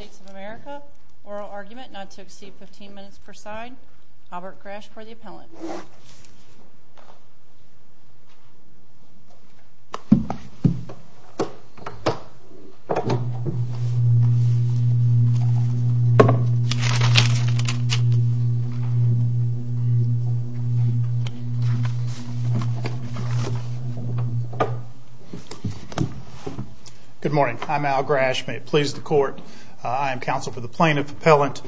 of America. Oral argument not to exceed 15 minutes per side. Albert Grasch for the appellant. Good morning. I'm Al Grasch. May it please the court. I am counsel for the plaintiff appellant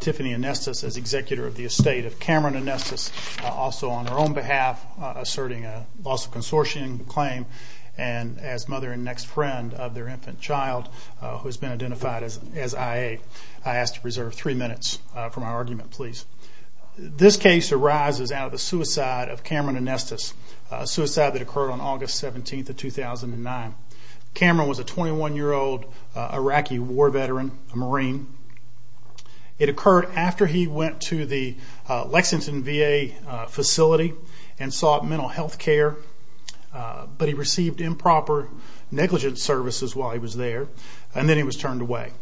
Tiffany Anestis as executor of the estate of Cameron Anestis. Also on her own behalf asserting a loss of consortium claim and as mother and next friend of their infant child who has been identified as I.A. I ask to preserve three minutes for my argument please. This case arises out of the suicide of Cameron Anestis. A suicide that occurred on August 17th of 2009. Cameron was a 21 year old Iraqi war veteran, a marine. It occurred after he went to the Lexington V.A. facility and sought mental health care but he received improper negligence services while he was there and then he was turned away.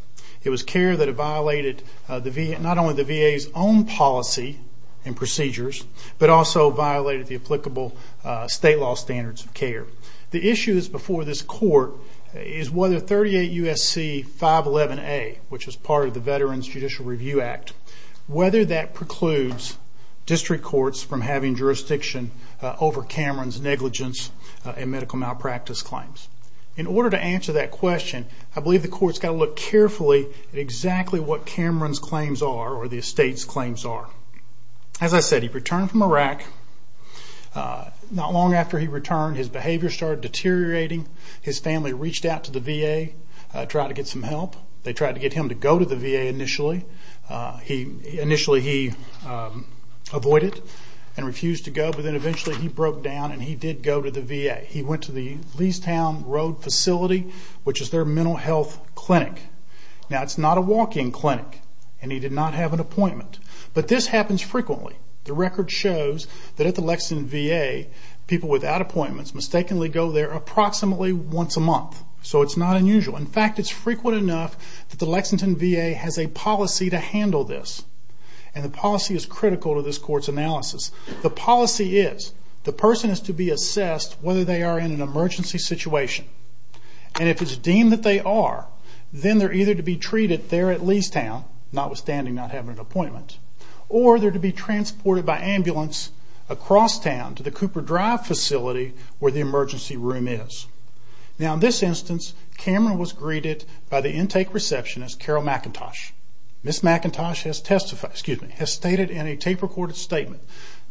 It was care that violated not only the V.A.'s own policy and procedures but also violated the applicable state law standards of care. The issue before this court is whether 38 U.S.C. 511A, which is part of the Veterans Judicial Review Act, whether that precludes district courts from having jurisdiction over Cameron's negligence and medical malpractice claims. In order to answer that question I believe the court has to look carefully at exactly what Cameron's claims are or the estate's claims are. As I said he returned from Iraq. Not long after he returned his behavior started deteriorating. His family reached out to the V.A. and tried to get some help. They tried to get him to go to the V.A. initially. Initially he avoided and refused to go but then eventually he broke down and he did go to the V.A. He went to the Leastown Road facility which is their mental health clinic. Now it's not a walk-in clinic and he did not have an appointment but this happens frequently. The record shows that at the Lexington V.A. people without appointments mistakenly go there approximately once a month so it's not unusual. In fact it's frequent enough that the Lexington V.A. has a policy to handle this and the policy is critical to this court's analysis. The policy is the person is to be assessed whether they are in an emergency situation and if it's deemed that they are then they're either to be treated there at Leastown notwithstanding not having an appointment or they're to be transported by ambulance across town to the Cooper Drive facility where the emergency room is. Now in this instance Cameron was greeted by the intake receptionist Carol McIntosh. Ms. McIntosh has stated in a tape recorded statement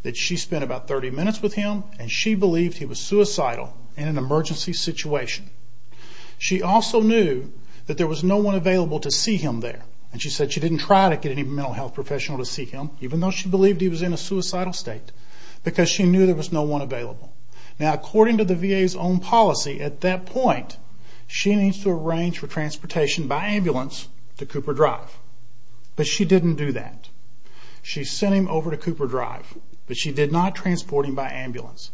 that she spent about 30 minutes with him and she believed he was suicidal in an emergency situation. She also knew that there was no one available to see him there and she said she didn't try to get any mental health professional to see him even though she believed he was in a suicidal state because she knew there was no one available. Now according to the V.A.'s own policy at that point she needs to arrange for transportation by ambulance to Cooper Drive but she didn't do that. She sent him over to Cooper Drive but she did not transport him by ambulance.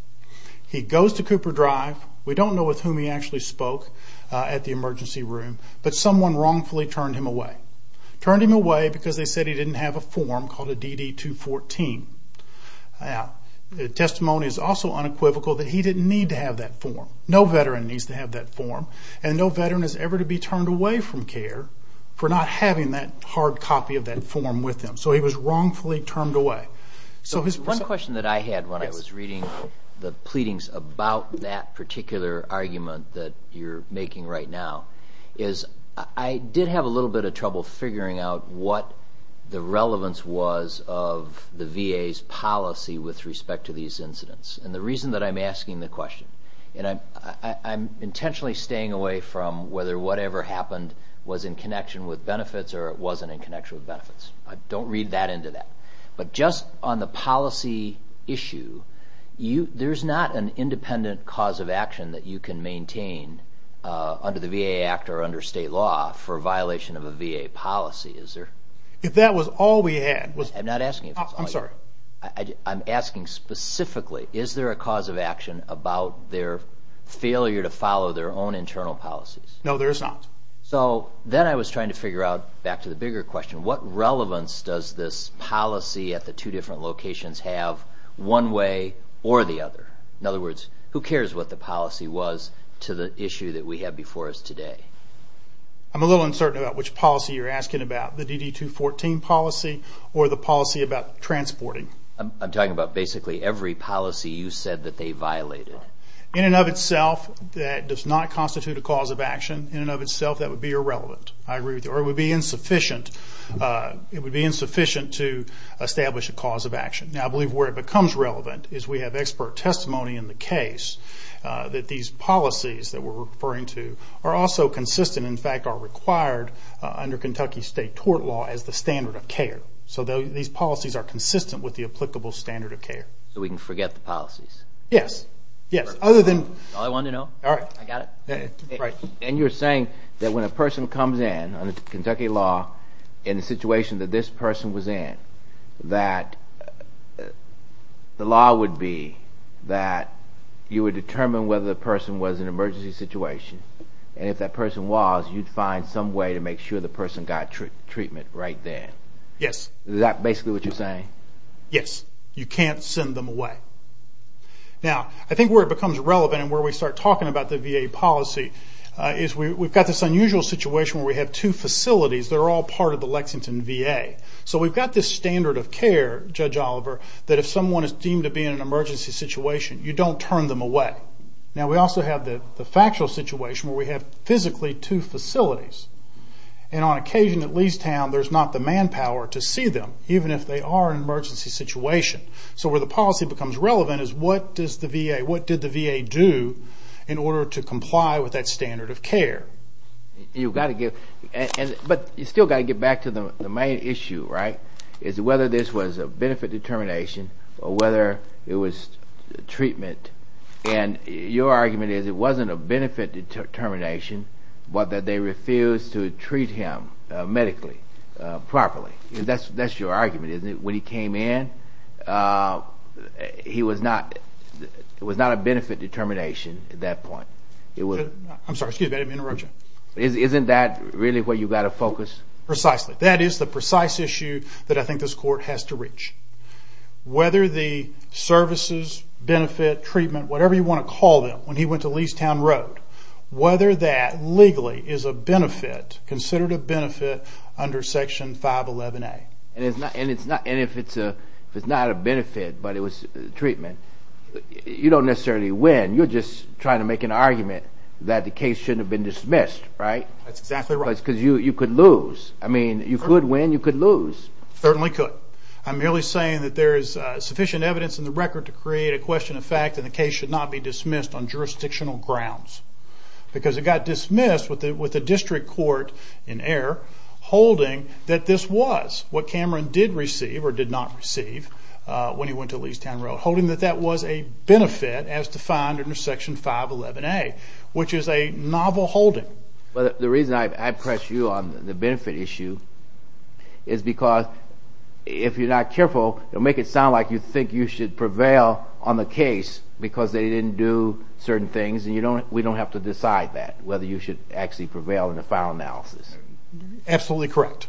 He goes to Cooper Drive we don't know with whom he actually spoke at the emergency room but someone wrongfully turned him away. Turned him away because they said he didn't have a form called a DD-214. Now the testimony is also unequivocal that he didn't need to have that form. No veteran needs to have that form and no veteran is ever to be turned away from care for not having that hard copy of that form with them. So he was wrongfully turned away. One question that I had when I was reading the pleadings about that particular argument that you're making right now is I did have a little bit of trouble figuring out what the relevance was of the V.A.'s policy with respect to these incidents and the reason that I'm asking the question and I'm intentionally staying away from whether whatever happened was in connection with benefits or it wasn't in connection with benefits. I don't read that into that but just on the policy issue there's not an independent cause of action that you can maintain under the V.A. Act or under state law for violation of a V.A. policy is there? If that was all we had. I'm asking specifically is there a cause of action about their failure to follow their own internal policies? No there is not. So then I was trying to figure out back to the bigger question what relevance does this policy at the two different locations have one way or the other? In other words who cares what the policy was to the issue that we have before us today? I'm a little uncertain about which policy you're asking about the DD 214 policy or the policy about transporting? I'm talking about basically every policy you said that they violated. In and of itself that does not constitute a cause of action. In and of itself that would be a violation of the V.A. Act. It would be irrelevant or it would be insufficient to establish a cause of action. Now I believe where it becomes relevant is we have expert testimony in the case that these policies that we're referring to are also consistent in fact are required under Kentucky state tort law as the standard of care. So these policies are consistent with the applicable standard of care. So we can forget the policies? Yes. And you're saying that when a person comes in under Kentucky law in the situation that this person was in that the law would be that you would determine whether the person was in an emergency situation and if that person was you'd find some way to make sure the person got treatment right there? Yes. Is that basically what you're saying? Yes. You can't send them away. Now I think where it becomes relevant and where we start talking about the V.A. policy is we've got this unusual situation where we have two facilities that are all part of the Lexington V.A. So we've got this standard of care, Judge Oliver, that if someone is deemed to be in an emergency situation you don't turn them away. Now we also have the factual situation where we have physically two facilities and on occasion at Leestown there's not the manpower to see them even if they are in an emergency situation. So where the policy becomes relevant is what did the V.A. do in order to comply with that standard of care? But you've still got to get back to the main issue, right, is whether this was a benefit determination or whether it was treatment. And your argument is it wasn't a benefit determination but that they refused to treat him medically, properly. That's your argument, isn't it? When he came in it was not a benefit determination at that point. Isn't that really where you've got to focus? Precisely. That is the precise issue that I think this court has to reach. Whether the services, benefit, treatment, whatever you want to call them, when he went to Leestown Road, whether that legally is a benefit, considered a benefit under Section 511A. And if it's not a benefit but it was treatment, you don't necessarily win. You're just trying to make an argument that the case shouldn't have been dismissed, right? That's exactly right. Because you could lose. I mean you could win, you could lose. Certainly could. I'm merely saying that there is sufficient evidence in the record to create a question of fact and the case should not be dismissed on jurisdictional grounds. Because it got dismissed with the district court in error holding that this was what Cameron did receive or did not receive when he went to Leestown Road, holding that that was a benefit as defined under Section 511A, which is a novel holding. But the reason I press you on the benefit issue is because if you're not careful, it'll make it sound like you think you should prevail on the case because they didn't do certain things and we don't have to decide that, whether you should actually prevail in the final analysis. Absolutely correct.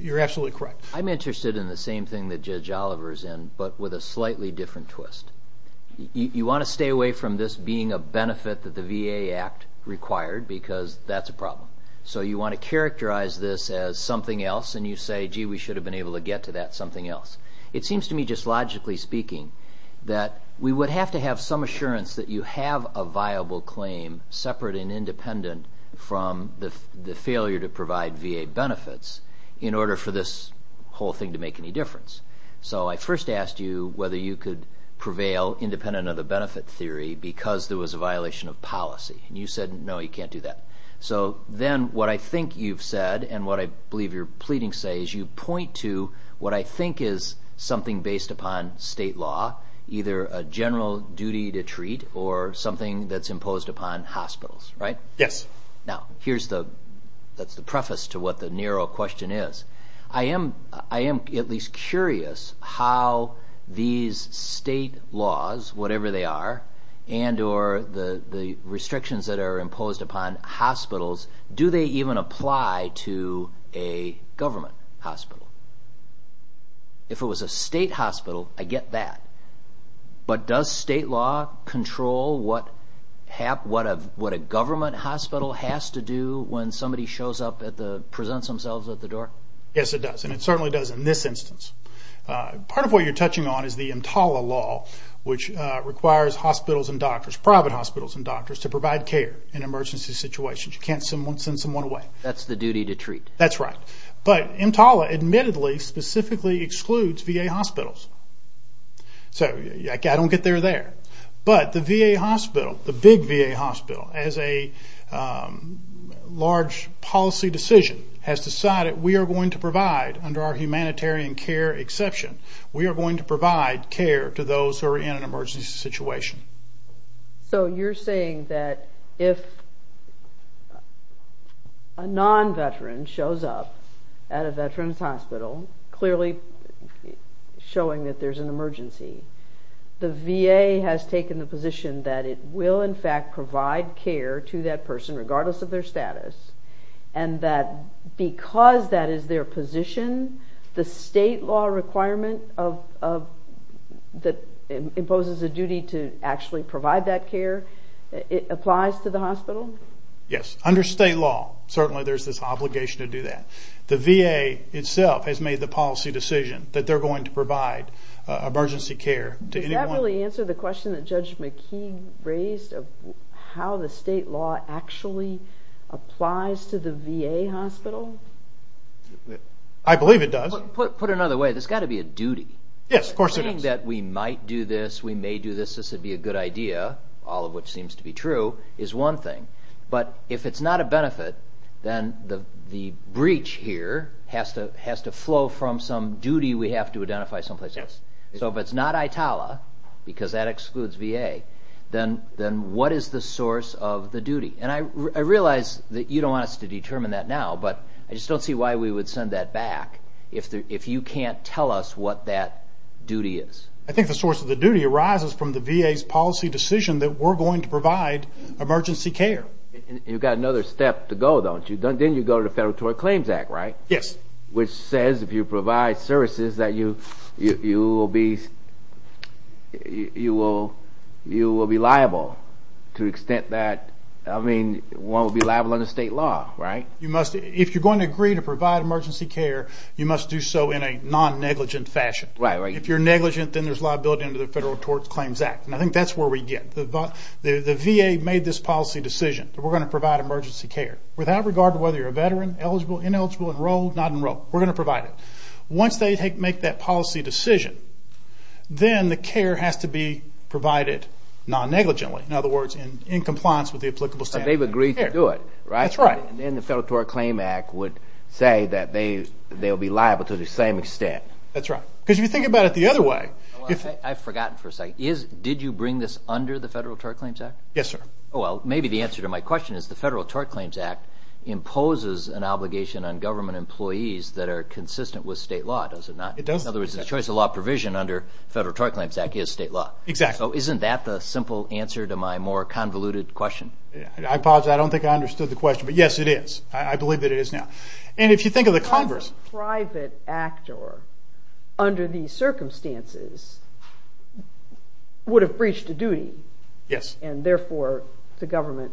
You're absolutely correct. I'm interested in the same thing that Judge Oliver's in but with a slightly different twist. You want to stay away from this being a benefit that the VA Act required because that's a problem. So you want to characterize this as something else and you say, gee, we should have been able to get to that something else. It seems to me just logically speaking that we would have to have some assurance that you have a viable claim separate and independent from the failure to provide VA benefits in order for this whole thing to make any difference. So I first asked you whether you could prevail independent of the benefit theory because there was a violation of policy and you said, no, you can't do that. So then what I think you've said and what I believe you're pleading say is you point to what I think is something based upon state law, either a general duty to treat or something that's imposed upon hospitals, right? Yes. Now, that's the preface to what the narrow question is. I am at least curious how these state laws, whatever they are, and or the restrictions that are imposed upon hospitals, do they even apply to a government hospital? If it was a state hospital, I get that, but does state law control what a government hospital has to do when somebody presents themselves at the door? Yes, it does, and it certainly does in this instance. Part of what you're touching on is the EMTALA law, which requires hospitals and doctors, private hospitals and doctors, to provide care in emergency situations. You can't send someone away. That's the duty to treat. That's right, but EMTALA admittedly specifically excludes VA hospitals, so I don't get there there, but the VA hospital, the big VA hospital, as a large policy decision, has decided we are going to provide, under our humanitarian care exception, we are going to provide care to those who are in an emergency situation. So you're saying that if a non-veteran shows up at a veteran's hospital, clearly showing that there's an emergency, the VA has taken the position that it will in fact provide care to that person, regardless of their status, and that because that is their position, the state law requirement that imposes a duty to actually provide that care applies to the hospital? Yes, under state law, certainly there's this obligation to do that. The VA itself has made the policy decision that they're going to provide emergency care to anyone. Does that really answer the question that Judge McKee raised of how the state law actually applies to the VA hospital? I believe it does. Put another way, there's got to be a duty. Yes, of course there is. Saying that we might do this, we may do this, this would be a good idea, all of which seems to be true, is one thing, but if it's not a benefit, then the breach here has to flow from some duty we have to identify someplace else. Yes. If it's not ITALA, because that excludes VA, then what is the source of the duty? I realize that you don't want us to determine that now, but I just don't see why we would send that back if you can't tell us what that duty is. I think the source of the duty arises from the VA's policy decision that we're going to provide emergency care. You've got another step to go, don't you? Then you go to the Federal Tort Claims Act, right? Yes. Which says if you provide services that you will be liable to the extent that, I mean, one would be liable under state law, right? If you're going to agree to provide emergency care, you must do so in a non-negligent fashion. Right, right. If you're negligent, then there's liability under the Federal Tort Claims Act, and I think that's where we get. The VA made this policy decision that we're going to provide emergency care. Without regard to whether you're a veteran, eligible, ineligible, enrolled, not enrolled, we're going to provide it. Once they make that policy decision, then the care has to be provided non-negligently. In other words, in compliance with the applicable standards. They've agreed to do it, right? That's right. Then the Federal Tort Claims Act would say that they'll be liable to the same extent. That's right. Because if you think about it the other way. I've forgotten for a second. Did you bring this under the Federal Tort Claims Act? Yes, sir. Well, maybe the answer to my question is the Federal Tort Claims Act imposes an obligation on government employees that are consistent with state law. Does it not? It does. In other words, the choice of law provision under the Federal Tort Claims Act is state law. Exactly. So isn't that the simple answer to my more convoluted question? I apologize. I don't think I understood the question, but yes, it is. I believe that it is now. And if you think of the converse. A private actor under these circumstances would have breached a duty. Yes. And therefore, it's a government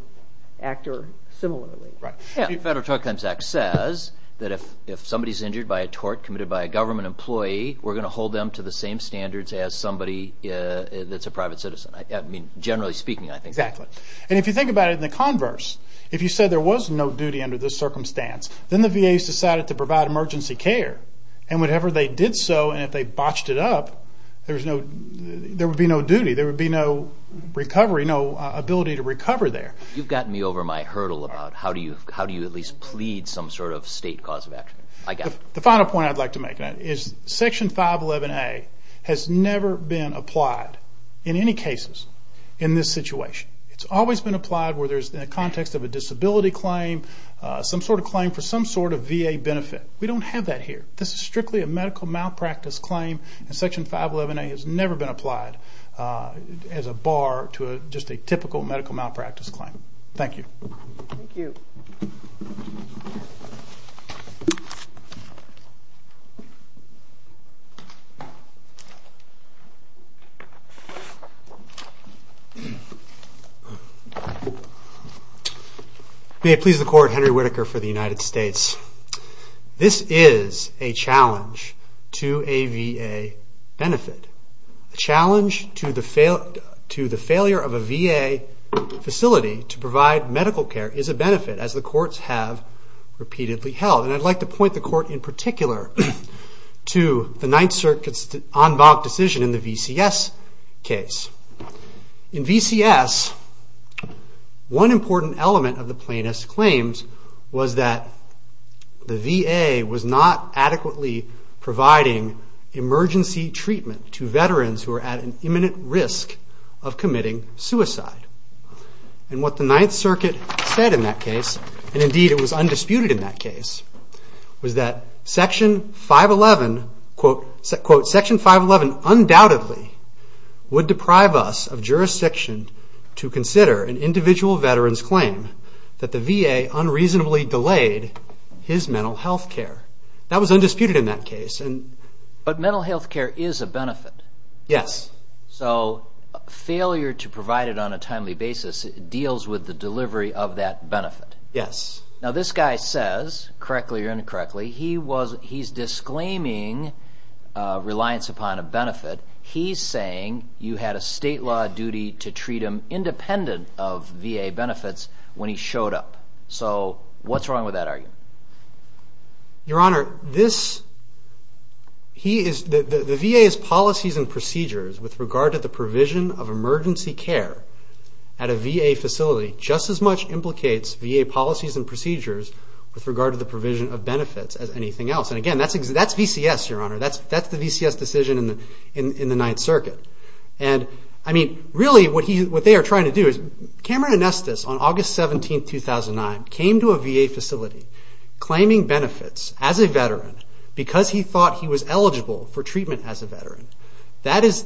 actor similarly. Right. The Federal Tort Claims Act says that if somebody's injured by a tort committed by a government employee, we're going to hold them to the same standards as somebody that's a private citizen. Generally speaking, I think. Exactly. And if you think about it in the converse, if you said there was no duty under this circumstance, then the VAs decided to provide emergency care. And whenever they did so and if they botched it up, there would be no duty. There would be no recovery, no ability to recover there. You've gotten me over my hurdle about how do you at least plead some sort of state cause of action. I got it. The final point I'd like to make is Section 511A has never been applied in any cases in this situation. It's always been applied where there's a context of a disability claim, some sort of claim for some sort of VA benefit. We don't have that here. This is strictly a medical malpractice claim, and Section 511A has never been applied as a bar to just a typical medical malpractice claim. Thank you. Thank you. May it please the Court, Henry Whitaker for the United States. This is a challenge to a VA benefit. A challenge to the failure of a VA facility to provide medical care is a benefit, as the courts have repeatedly held. And I'd like to point the Court in particular to the Ninth Circuit's en banc decision in the VCS case. In VCS, one important element of the plaintiff's claims was that the VA was not adequately providing emergency treatment to veterans who were at an imminent risk of committing suicide. And what the Ninth Circuit said in that case, and indeed it was undisputed in that case, was that Section 511, quote, Section 511 undoubtedly would deprive us of jurisdiction to consider an individual veteran's claim that the VA unreasonably delayed his mental health care. That was undisputed in that case. But mental health care is a benefit. Yes. So failure to provide it on a timely basis deals with the delivery of that benefit. Yes. Now this guy says, correctly or incorrectly, he's disclaiming reliance upon a benefit. He's saying you had a state law duty to treat him independent of VA benefits when he showed up. So what's wrong with that argument? Your Honor, the VA's policies and procedures with regard to the provision of emergency care at a VA facility just as much implicates VA policies and procedures with regard to the provision of benefits as anything else. And, again, that's VCS, Your Honor. That's the VCS decision in the Ninth Circuit. And, I mean, really what they are trying to do is Cameron Anestis on August 17, 2009, came to a VA facility claiming benefits as a veteran because he thought he was eligible for treatment as a veteran. That is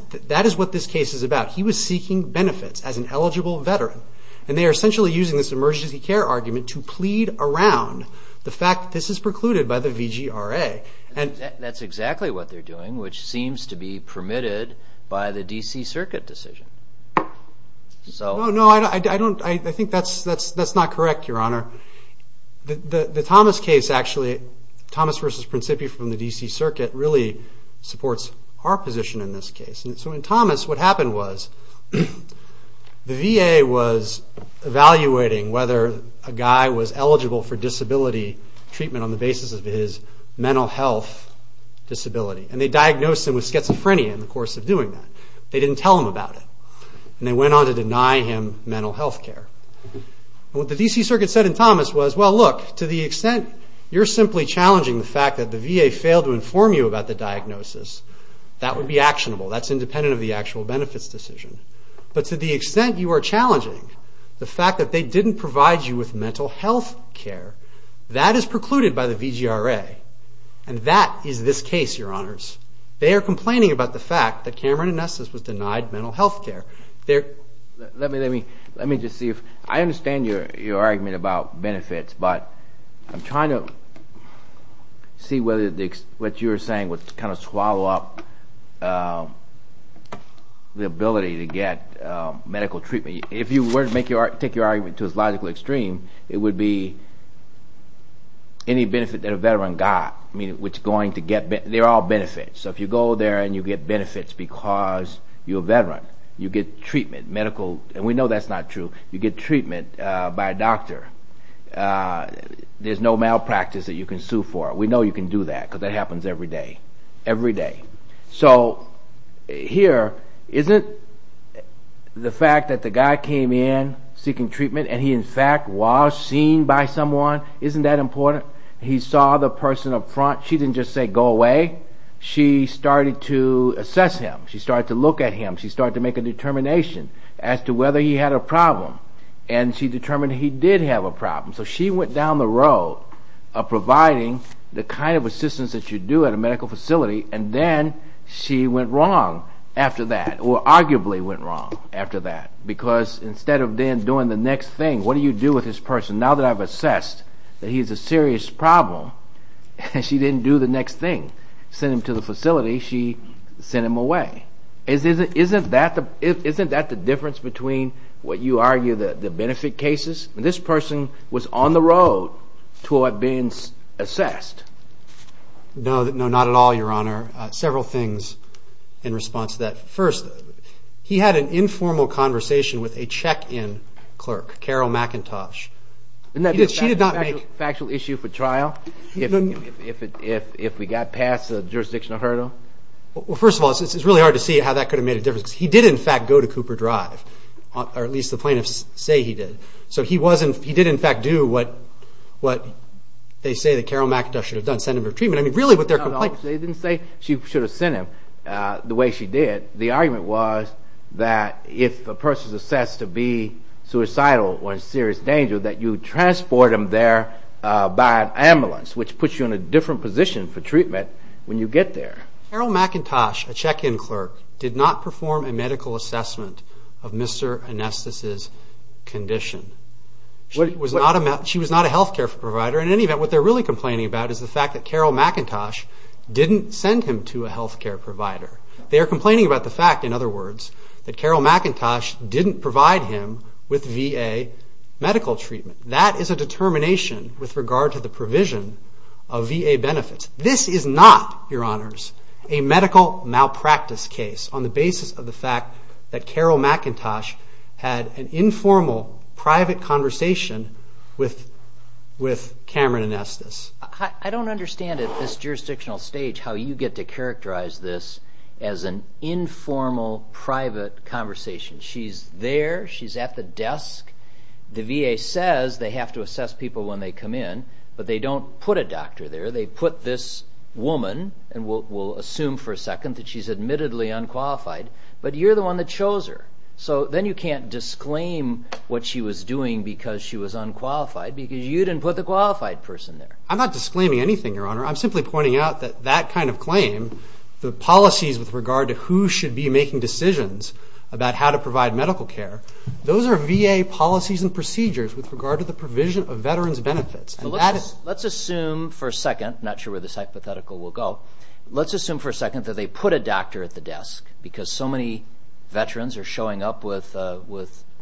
what this case is about. He was seeking benefits as an eligible veteran. And they are essentially using this emergency care argument to plead around the fact this is precluded by the VGRA. That's exactly what they're doing, which seems to be permitted by the D.C. Circuit decision. No, I think that's not correct, Your Honor. The Thomas case, actually, Thomas v. Principi from the D.C. Circuit, really supports our position in this case. So, in Thomas, what happened was the VA was evaluating whether a guy was eligible for disability treatment on the basis of his mental health disability. And they diagnosed him with schizophrenia in the course of doing that. They didn't tell him about it. And they went on to deny him mental health care. And what the D.C. Circuit said in Thomas was, well, look, to the extent you're simply challenging the fact that the VA failed to inform you about the diagnosis, that would be actionable. That's independent of the actual benefits decision. But to the extent you are challenging the fact that they didn't provide you with mental health care, that is precluded by the VGRA. And that is this case, Your Honors. They are complaining about the fact that Cameron and Estes was denied mental health care. Let me just see. I understand your argument about benefits. But I'm trying to see whether what you're saying would kind of swallow up the ability to get medical treatment. If you were to take your argument to its logical extreme, it would be any benefit that a veteran got. I mean, they're all benefits. So if you go there and you get benefits because you're a veteran, you get treatment, medical, and we know that's not true. You get treatment by a doctor. There's no malpractice that you can sue for. We know you can do that because that happens every day. Every day. So here, isn't the fact that the guy came in seeking treatment and he in fact was seen by someone, isn't that important? He saw the person up front. She didn't just say, go away. She started to assess him. She started to look at him. She started to make a determination as to whether he had a problem. And she determined he did have a problem. So she went down the road of providing the kind of assistance that you do at a medical facility, and then she went wrong after that, or arguably went wrong after that. Because instead of then doing the next thing, what do you do with this person? Now that I've assessed that he's a serious problem, she didn't do the next thing. She didn't send him to the facility. She sent him away. Isn't that the difference between what you argue the benefit cases? This person was on the road to being assessed. No, not at all, Your Honor. Several things in response to that. First, he had an informal conversation with a check-in clerk, Carol McIntosh. Isn't that a factual issue for trial if we got past the jurisdictional hurdle? Well, first of all, it's really hard to see how that could have made a difference. He did, in fact, go to Cooper Drive, or at least the plaintiffs say he did. So he did, in fact, do what they say that Carol McIntosh should have done, send him for treatment. No, no, they didn't say she should have sent him the way she did. The argument was that if a person is assessed to be suicidal or in serious danger, that you transport them there by ambulance, which puts you in a different position for treatment when you get there. Carol McIntosh, a check-in clerk, did not perform a medical assessment of Mr. Anestis' condition. She was not a health care provider. In any event, what they're really complaining about is the fact that Carol McIntosh didn't send him to a health care provider. They are complaining about the fact, in other words, that Carol McIntosh didn't provide him with VA medical treatment. That is a determination with regard to the provision of VA benefits. This is not, Your Honors, a medical malpractice case on the basis of the fact that Carol McIntosh had an informal private conversation with Cameron Anestis. I don't understand at this jurisdictional stage how you get to characterize this as an informal private conversation. She's there. She's at the desk. The VA says they have to assess people when they come in, but they don't put a doctor there. They put this woman, and we'll assume for a second that she's admittedly unqualified, but you're the one that chose her. So then you can't disclaim what she was doing because she was unqualified because you didn't put the qualified person there. I'm not disclaiming anything, Your Honor. I'm simply pointing out that that kind of claim, the policies with regard to who should be making decisions about how to provide medical care, those are VA policies and procedures with regard to the provision of veterans' benefits. Let's assume for a second. I'm not sure where this hypothetical will go. Let's assume for a second that they put a doctor at the desk because so many veterans are showing up with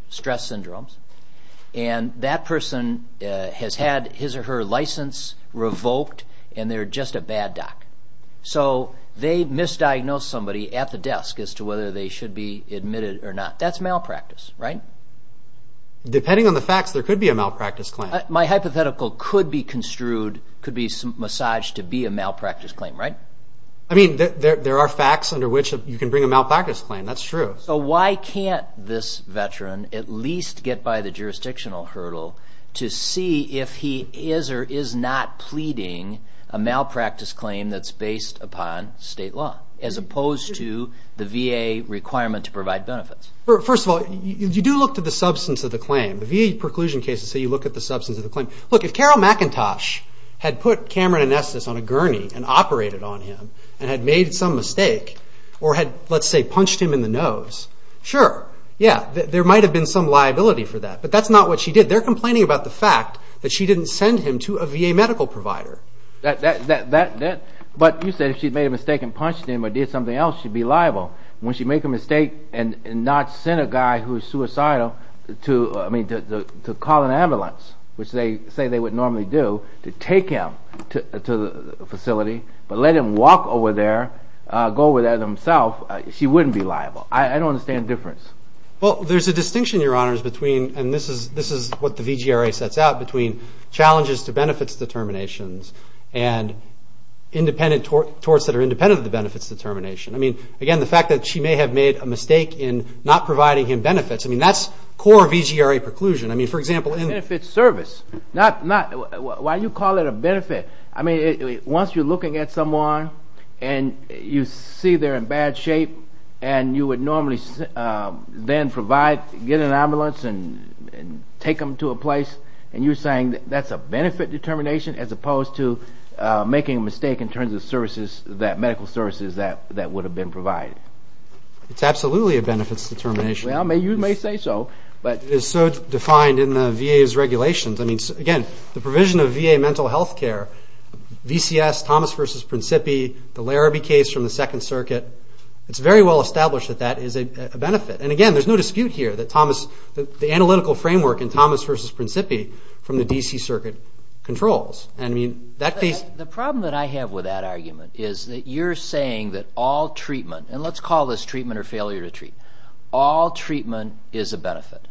stress syndromes, and that person has had his or her license revoked, and they're just a bad doc. So they misdiagnosed somebody at the desk as to whether they should be admitted or not. That's malpractice, right? Depending on the facts, there could be a malpractice claim. My hypothetical could be construed, could be massaged to be a malpractice claim, right? I mean, there are facts under which you can bring a malpractice claim. That's true. So why can't this veteran at least get by the jurisdictional hurdle to see if he is or is not pleading a malpractice claim that's based upon state law, as opposed to the VA requirement to provide benefits? First of all, you do look to the substance of the claim. The VA preclusion cases say you look at the substance of the claim. Look, if Carroll McIntosh had put Cameron Onestis on a gurney and operated on him and had made some mistake or had, let's say, punched him in the nose, sure, yeah, there might have been some liability for that. But that's not what she did. They're complaining about the fact that she didn't send him to a VA medical provider. But you said if she'd made a mistake and punched him or did something else, she'd be liable. When she'd make a mistake and not send a guy who's suicidal to call an ambulance, which they say they would normally do, to take him to the facility but let him walk over there, go over there himself, she wouldn't be liable. I don't understand the difference. Well, there's a distinction, Your Honors, between, and this is what the VGRA sets out, between challenges to benefits determinations and torts that are independent of the benefits determination. I mean, again, the fact that she may have made a mistake in not providing him benefits, I mean, that's core VGRA preclusion. I mean, for example, in- Benefits service. Why do you call it a benefit? I mean, once you're looking at someone and you see they're in bad shape and you would normally then provide, get an ambulance and take them to a place, and you're saying that's a benefit determination as opposed to making a mistake in terms of medical services that would have been provided. It's absolutely a benefits determination. Well, you may say so, but- It is so defined in the VA's regulations. I mean, again, the provision of VA mental health care, VCS, Thomas v. Principi, the Larrabee case from the Second Circuit, it's very well established that that is a benefit. And, again, there's no dispute here that Thomas, the analytical framework in Thomas v. Principi from the D.C. Circuit controls. I mean, that case- The problem that I have with that argument is that you're saying that all treatment, and let's call this treatment or failure to treat, all treatment is a benefit.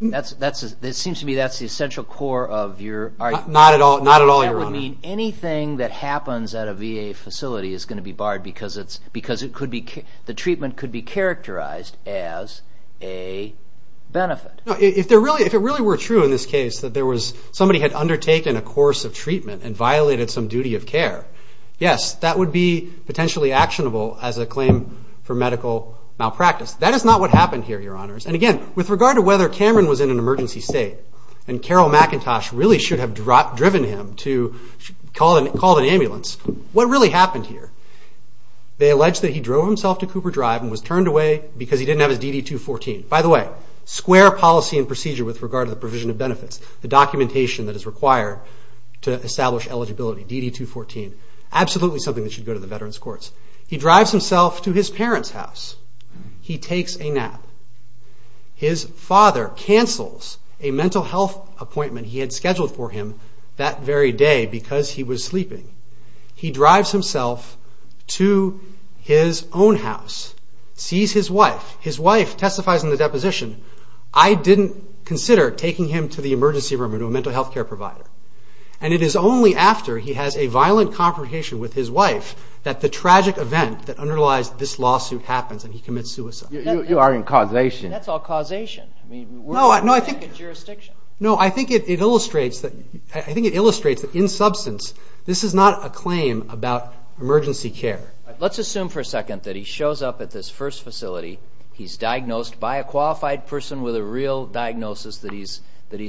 It seems to me that's the essential core of your argument. Not at all, Your Honor. That would mean anything that happens at a VA facility is going to be barred because the treatment could be characterized as a benefit. If it really were true in this case that somebody had undertaken a course of treatment and violated some duty of care, yes, that would be potentially actionable as a claim for medical malpractice. That is not what happened here, Your Honors. And, again, with regard to whether Cameron was in an emergency state and Carol McIntosh really should have driven him to call an ambulance, what really happened here? They allege that he drove himself to Cooper Drive and was turned away because he didn't have his DD-214. By the way, square policy and procedure with regard to the provision of benefits, the documentation that is required to establish eligibility, DD-214, absolutely something that should go to the Veterans Courts. He drives himself to his parents' house. He takes a nap. His father cancels a mental health appointment he had scheduled for him that very day because he was sleeping. He drives himself to his own house, sees his wife. His wife testifies in the deposition, I didn't consider taking him to the emergency room or to a mental health care provider. And it is only after he has a violent confrontation with his wife that the tragic event that underlies this lawsuit happens and he commits suicide. You are in causation. That's all causation. No, I think it illustrates that in substance this is not a claim about emergency care. Let's assume for a second that he shows up at this first facility. He's diagnosed by a qualified person with a real diagnosis that he's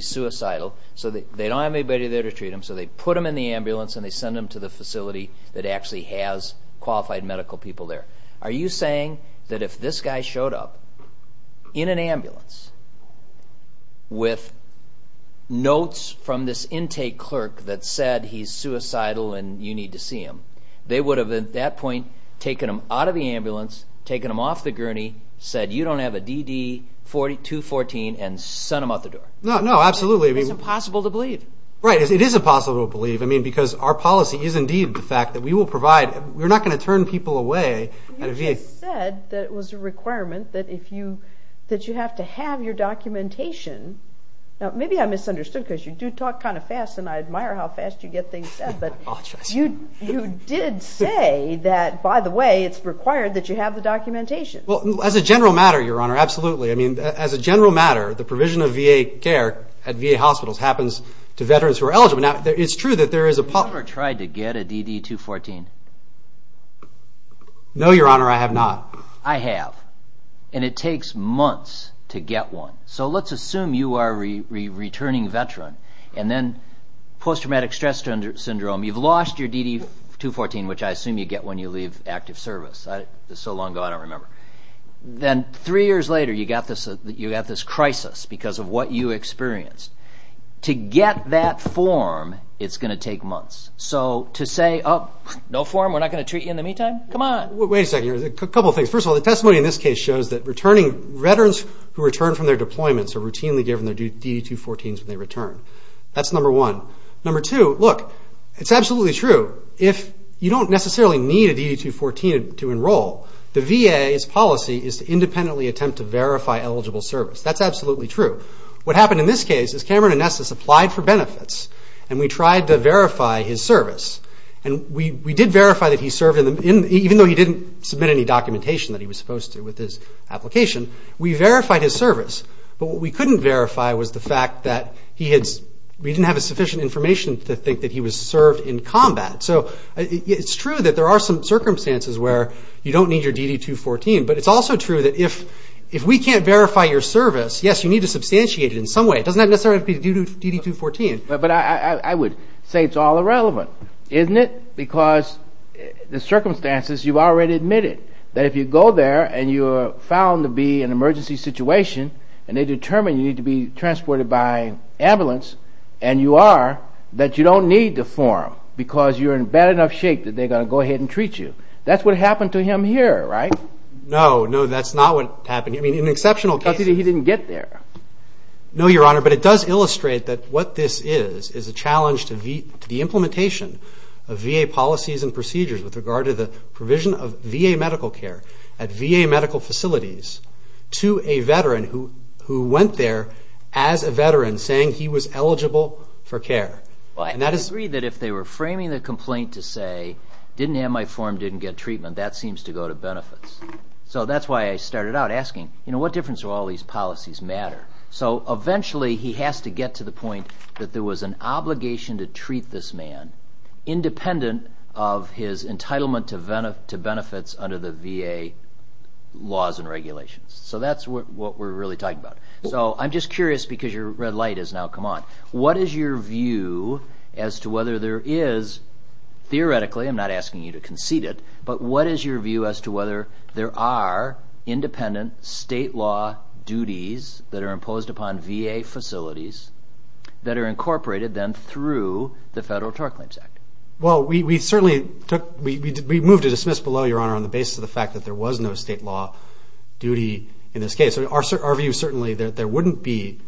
suicidal. So they don't have anybody there to treat him, so they put him in the ambulance and they send him to the facility that actually has qualified medical people there. Are you saying that if this guy showed up in an ambulance with notes from this intake clerk that said he's suicidal and you need to see him, they would have at that point taken him out of the ambulance, taken him off the gurney, said, you don't have a DD-214, and sent him out the door? No, absolutely. It's impossible to believe. Right. It is impossible to believe because our policy is indeed the fact that we will provide. We're not going to turn people away at a VA. You just said that it was a requirement that you have to have your documentation. Now, maybe I misunderstood because you do talk kind of fast, and I admire how fast you get things said, but you did say that, by the way, it's required that you have the documentation. Well, as a general matter, Your Honor, absolutely. I mean, as a general matter, the provision of VA care at VA hospitals happens to veterans who are eligible. Now, it's true that there is a policy. Have you ever tried to get a DD-214? No, Your Honor, I have not. I have, and it takes months to get one. So let's assume you are a returning veteran, and then post-traumatic stress syndrome, you've lost your DD-214, which I assume you get when you leave active service. That was so long ago I don't remember. Then three years later, you got this crisis because of what you experienced. To get that form, it's going to take months. So to say, oh, no form, we're not going to treat you in the meantime, come on. Wait a second. A couple of things. First of all, the testimony in this case shows that returning veterans who return from their deployments are routinely given their DD-214s when they return. That's number one. Number two, look, it's absolutely true. If you don't necessarily need a DD-214 to enroll, the VA's policy is to independently attempt to verify eligible service. That's absolutely true. What happened in this case is Cameron and Nessus applied for benefits, and we tried to verify his service. And we did verify that he served, even though he didn't submit any documentation that he was supposed to with his application, we verified his service. But what we couldn't verify was the fact that we didn't have sufficient information to think that he was served in combat. So it's true that there are some circumstances where you don't need your DD-214. But it's also true that if we can't verify your service, yes, you need to substantiate it in some way. It doesn't necessarily have to be due to DD-214. But I would say it's all irrelevant, isn't it? Because the circumstances, you've already admitted that if you go there and you're found to be in an emergency situation and they determine you need to be transported by ambulance, and you are, that you don't need the form because you're in bad enough shape that they're going to go ahead and treat you. That's what happened to him here, right? No, no, that's not what happened. I mean, in exceptional cases. He didn't get there. No, Your Honor, but it does illustrate that what this is, is a challenge to the implementation of VA policies and procedures with regard to the provision of VA medical care at VA medical facilities to a veteran who went there as a veteran saying he was eligible for care. Well, I agree that if they were framing the complaint to say, didn't have my form, didn't get treatment, that seems to go to benefits. So that's why I started out asking, you know, what difference do all these policies matter? So eventually he has to get to the point that there was an obligation to treat this man independent of his entitlement to benefits under the VA laws and regulations. So that's what we're really talking about. So I'm just curious because your red light has now come on. What is your view as to whether there is, theoretically, I'm not asking you to concede it, but what is your view as to whether there are independent state law duties that are imposed upon VA facilities that are incorporated then through the Federal Tar Claims Act? Well, we certainly took, we moved to dismiss below, Your Honor, on the basis of the fact that there was no state law duty in this case. Our view is certainly that there wouldn't be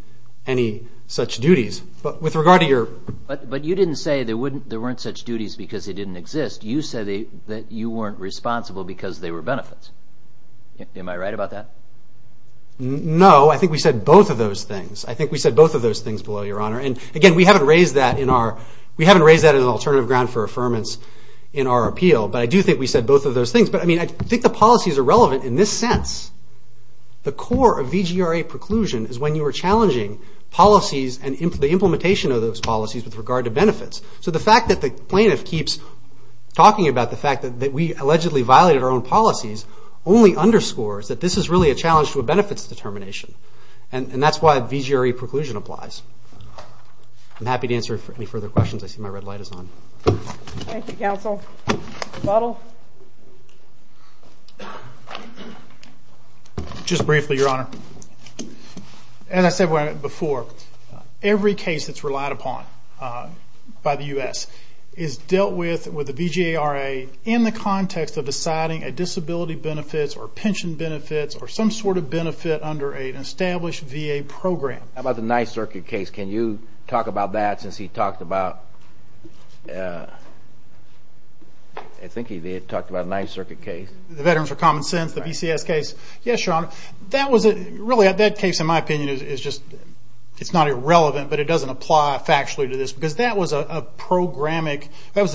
any such duties. But with regard to your... But you didn't say there weren't such duties because they didn't exist. You said that you weren't responsible because they were benefits. Am I right about that? No, I think we said both of those things. I think we said both of those things below, Your Honor. And again, we haven't raised that in an alternative ground for affirmance in our appeal. But I do think we said both of those things. But I think the policies are relevant in this sense. The core of VGRA preclusion is when you are challenging policies and the implementation of those policies with regard to benefits. So the fact that the plaintiff keeps talking about the fact that we allegedly violated our own policies only underscores that this is really a challenge to a benefits determination. And that's why VGRA preclusion applies. I'm happy to answer any further questions. I see my red light is on. Thank you, counsel. Butler? Just briefly, Your Honor. As I said before, every case that's relied upon by the U.S. is dealt with with the VGRA in the context of deciding a disability benefits or pension benefits or some sort of benefit under an established VA program. How about the Ninth Circuit case? Can you talk about that since he talked about the Ninth Circuit case? The Veterans for Common Sense, the BCS case? Yes, Your Honor. That case, in my opinion, is not irrelevant, but it doesn't apply factually to this because that was a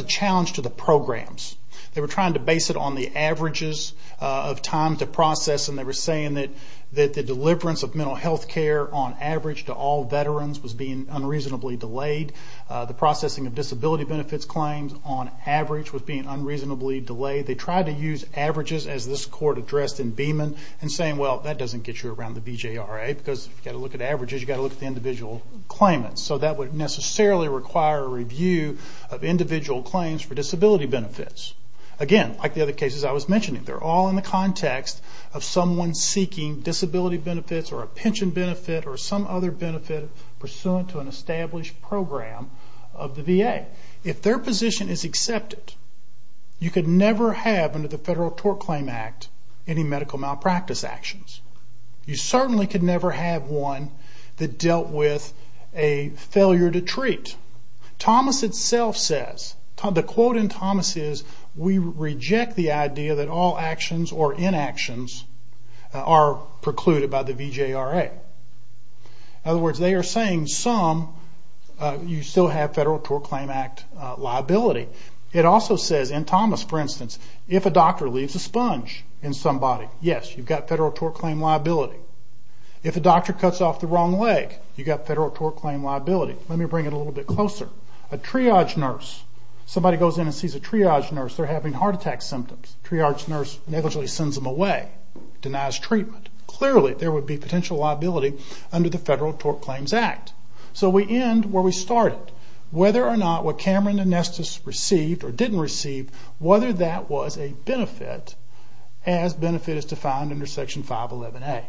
challenge to the programs. They were trying to base it on the averages of time to process, and they were saying that the deliverance of mental health care, on average, to all veterans was being unreasonably delayed. The processing of disability benefits claims, on average, was being unreasonably delayed. They tried to use averages, as this court addressed in Beeman, and saying, well, that doesn't get you around the VGRA because if you've got to look at averages, you've got to look at the individual claimants. So that would necessarily require a review of individual claims for disability benefits. Again, like the other cases I was mentioning, they're all in the context of someone seeking disability benefits or a pension benefit or some other benefit pursuant to an established program of the VA. If their position is accepted, you could never have under the Federal Tort Claim Act any medical malpractice actions. You certainly could never have one that dealt with a failure to treat. Thomas itself says, the quote in Thomas is, we reject the idea that all actions or inactions are precluded by the VGRA. In other words, they are saying some, you still have Federal Tort Claim Act liability. It also says in Thomas, for instance, if a doctor leaves a sponge in somebody, yes, you've got Federal Tort Claim liability. If a doctor cuts off the wrong leg, you've got Federal Tort Claim liability. Let me bring it a little bit closer. A triage nurse, somebody goes in and sees a triage nurse, they're having heart attack symptoms. The triage nurse negligently sends them away, denies treatment. Clearly, there would be potential liability under the Federal Tort Claims Act. So we end where we started. Whether or not what Cameron and Nestis received or didn't receive, whether that was a benefit, as benefit is defined under Section 511A.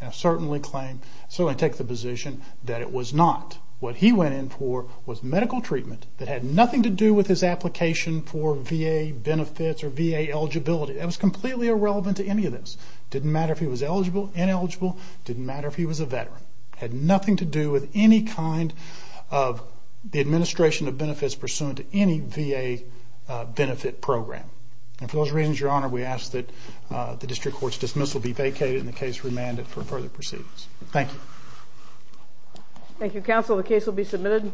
And I certainly take the position that it was not. What he went in for was medical treatment that had nothing to do with his application for VA benefits or VA eligibility. That was completely irrelevant to any of this. It didn't matter if he was eligible, ineligible. It didn't matter if he was a veteran. It had nothing to do with any kind of the administration of benefits pursuant to any VA benefit program. And for those reasons, Your Honor, we ask that the district court's dismissal be vacated and the case remanded for further proceedings. Thank you. Thank you, counsel. The case will be submitted.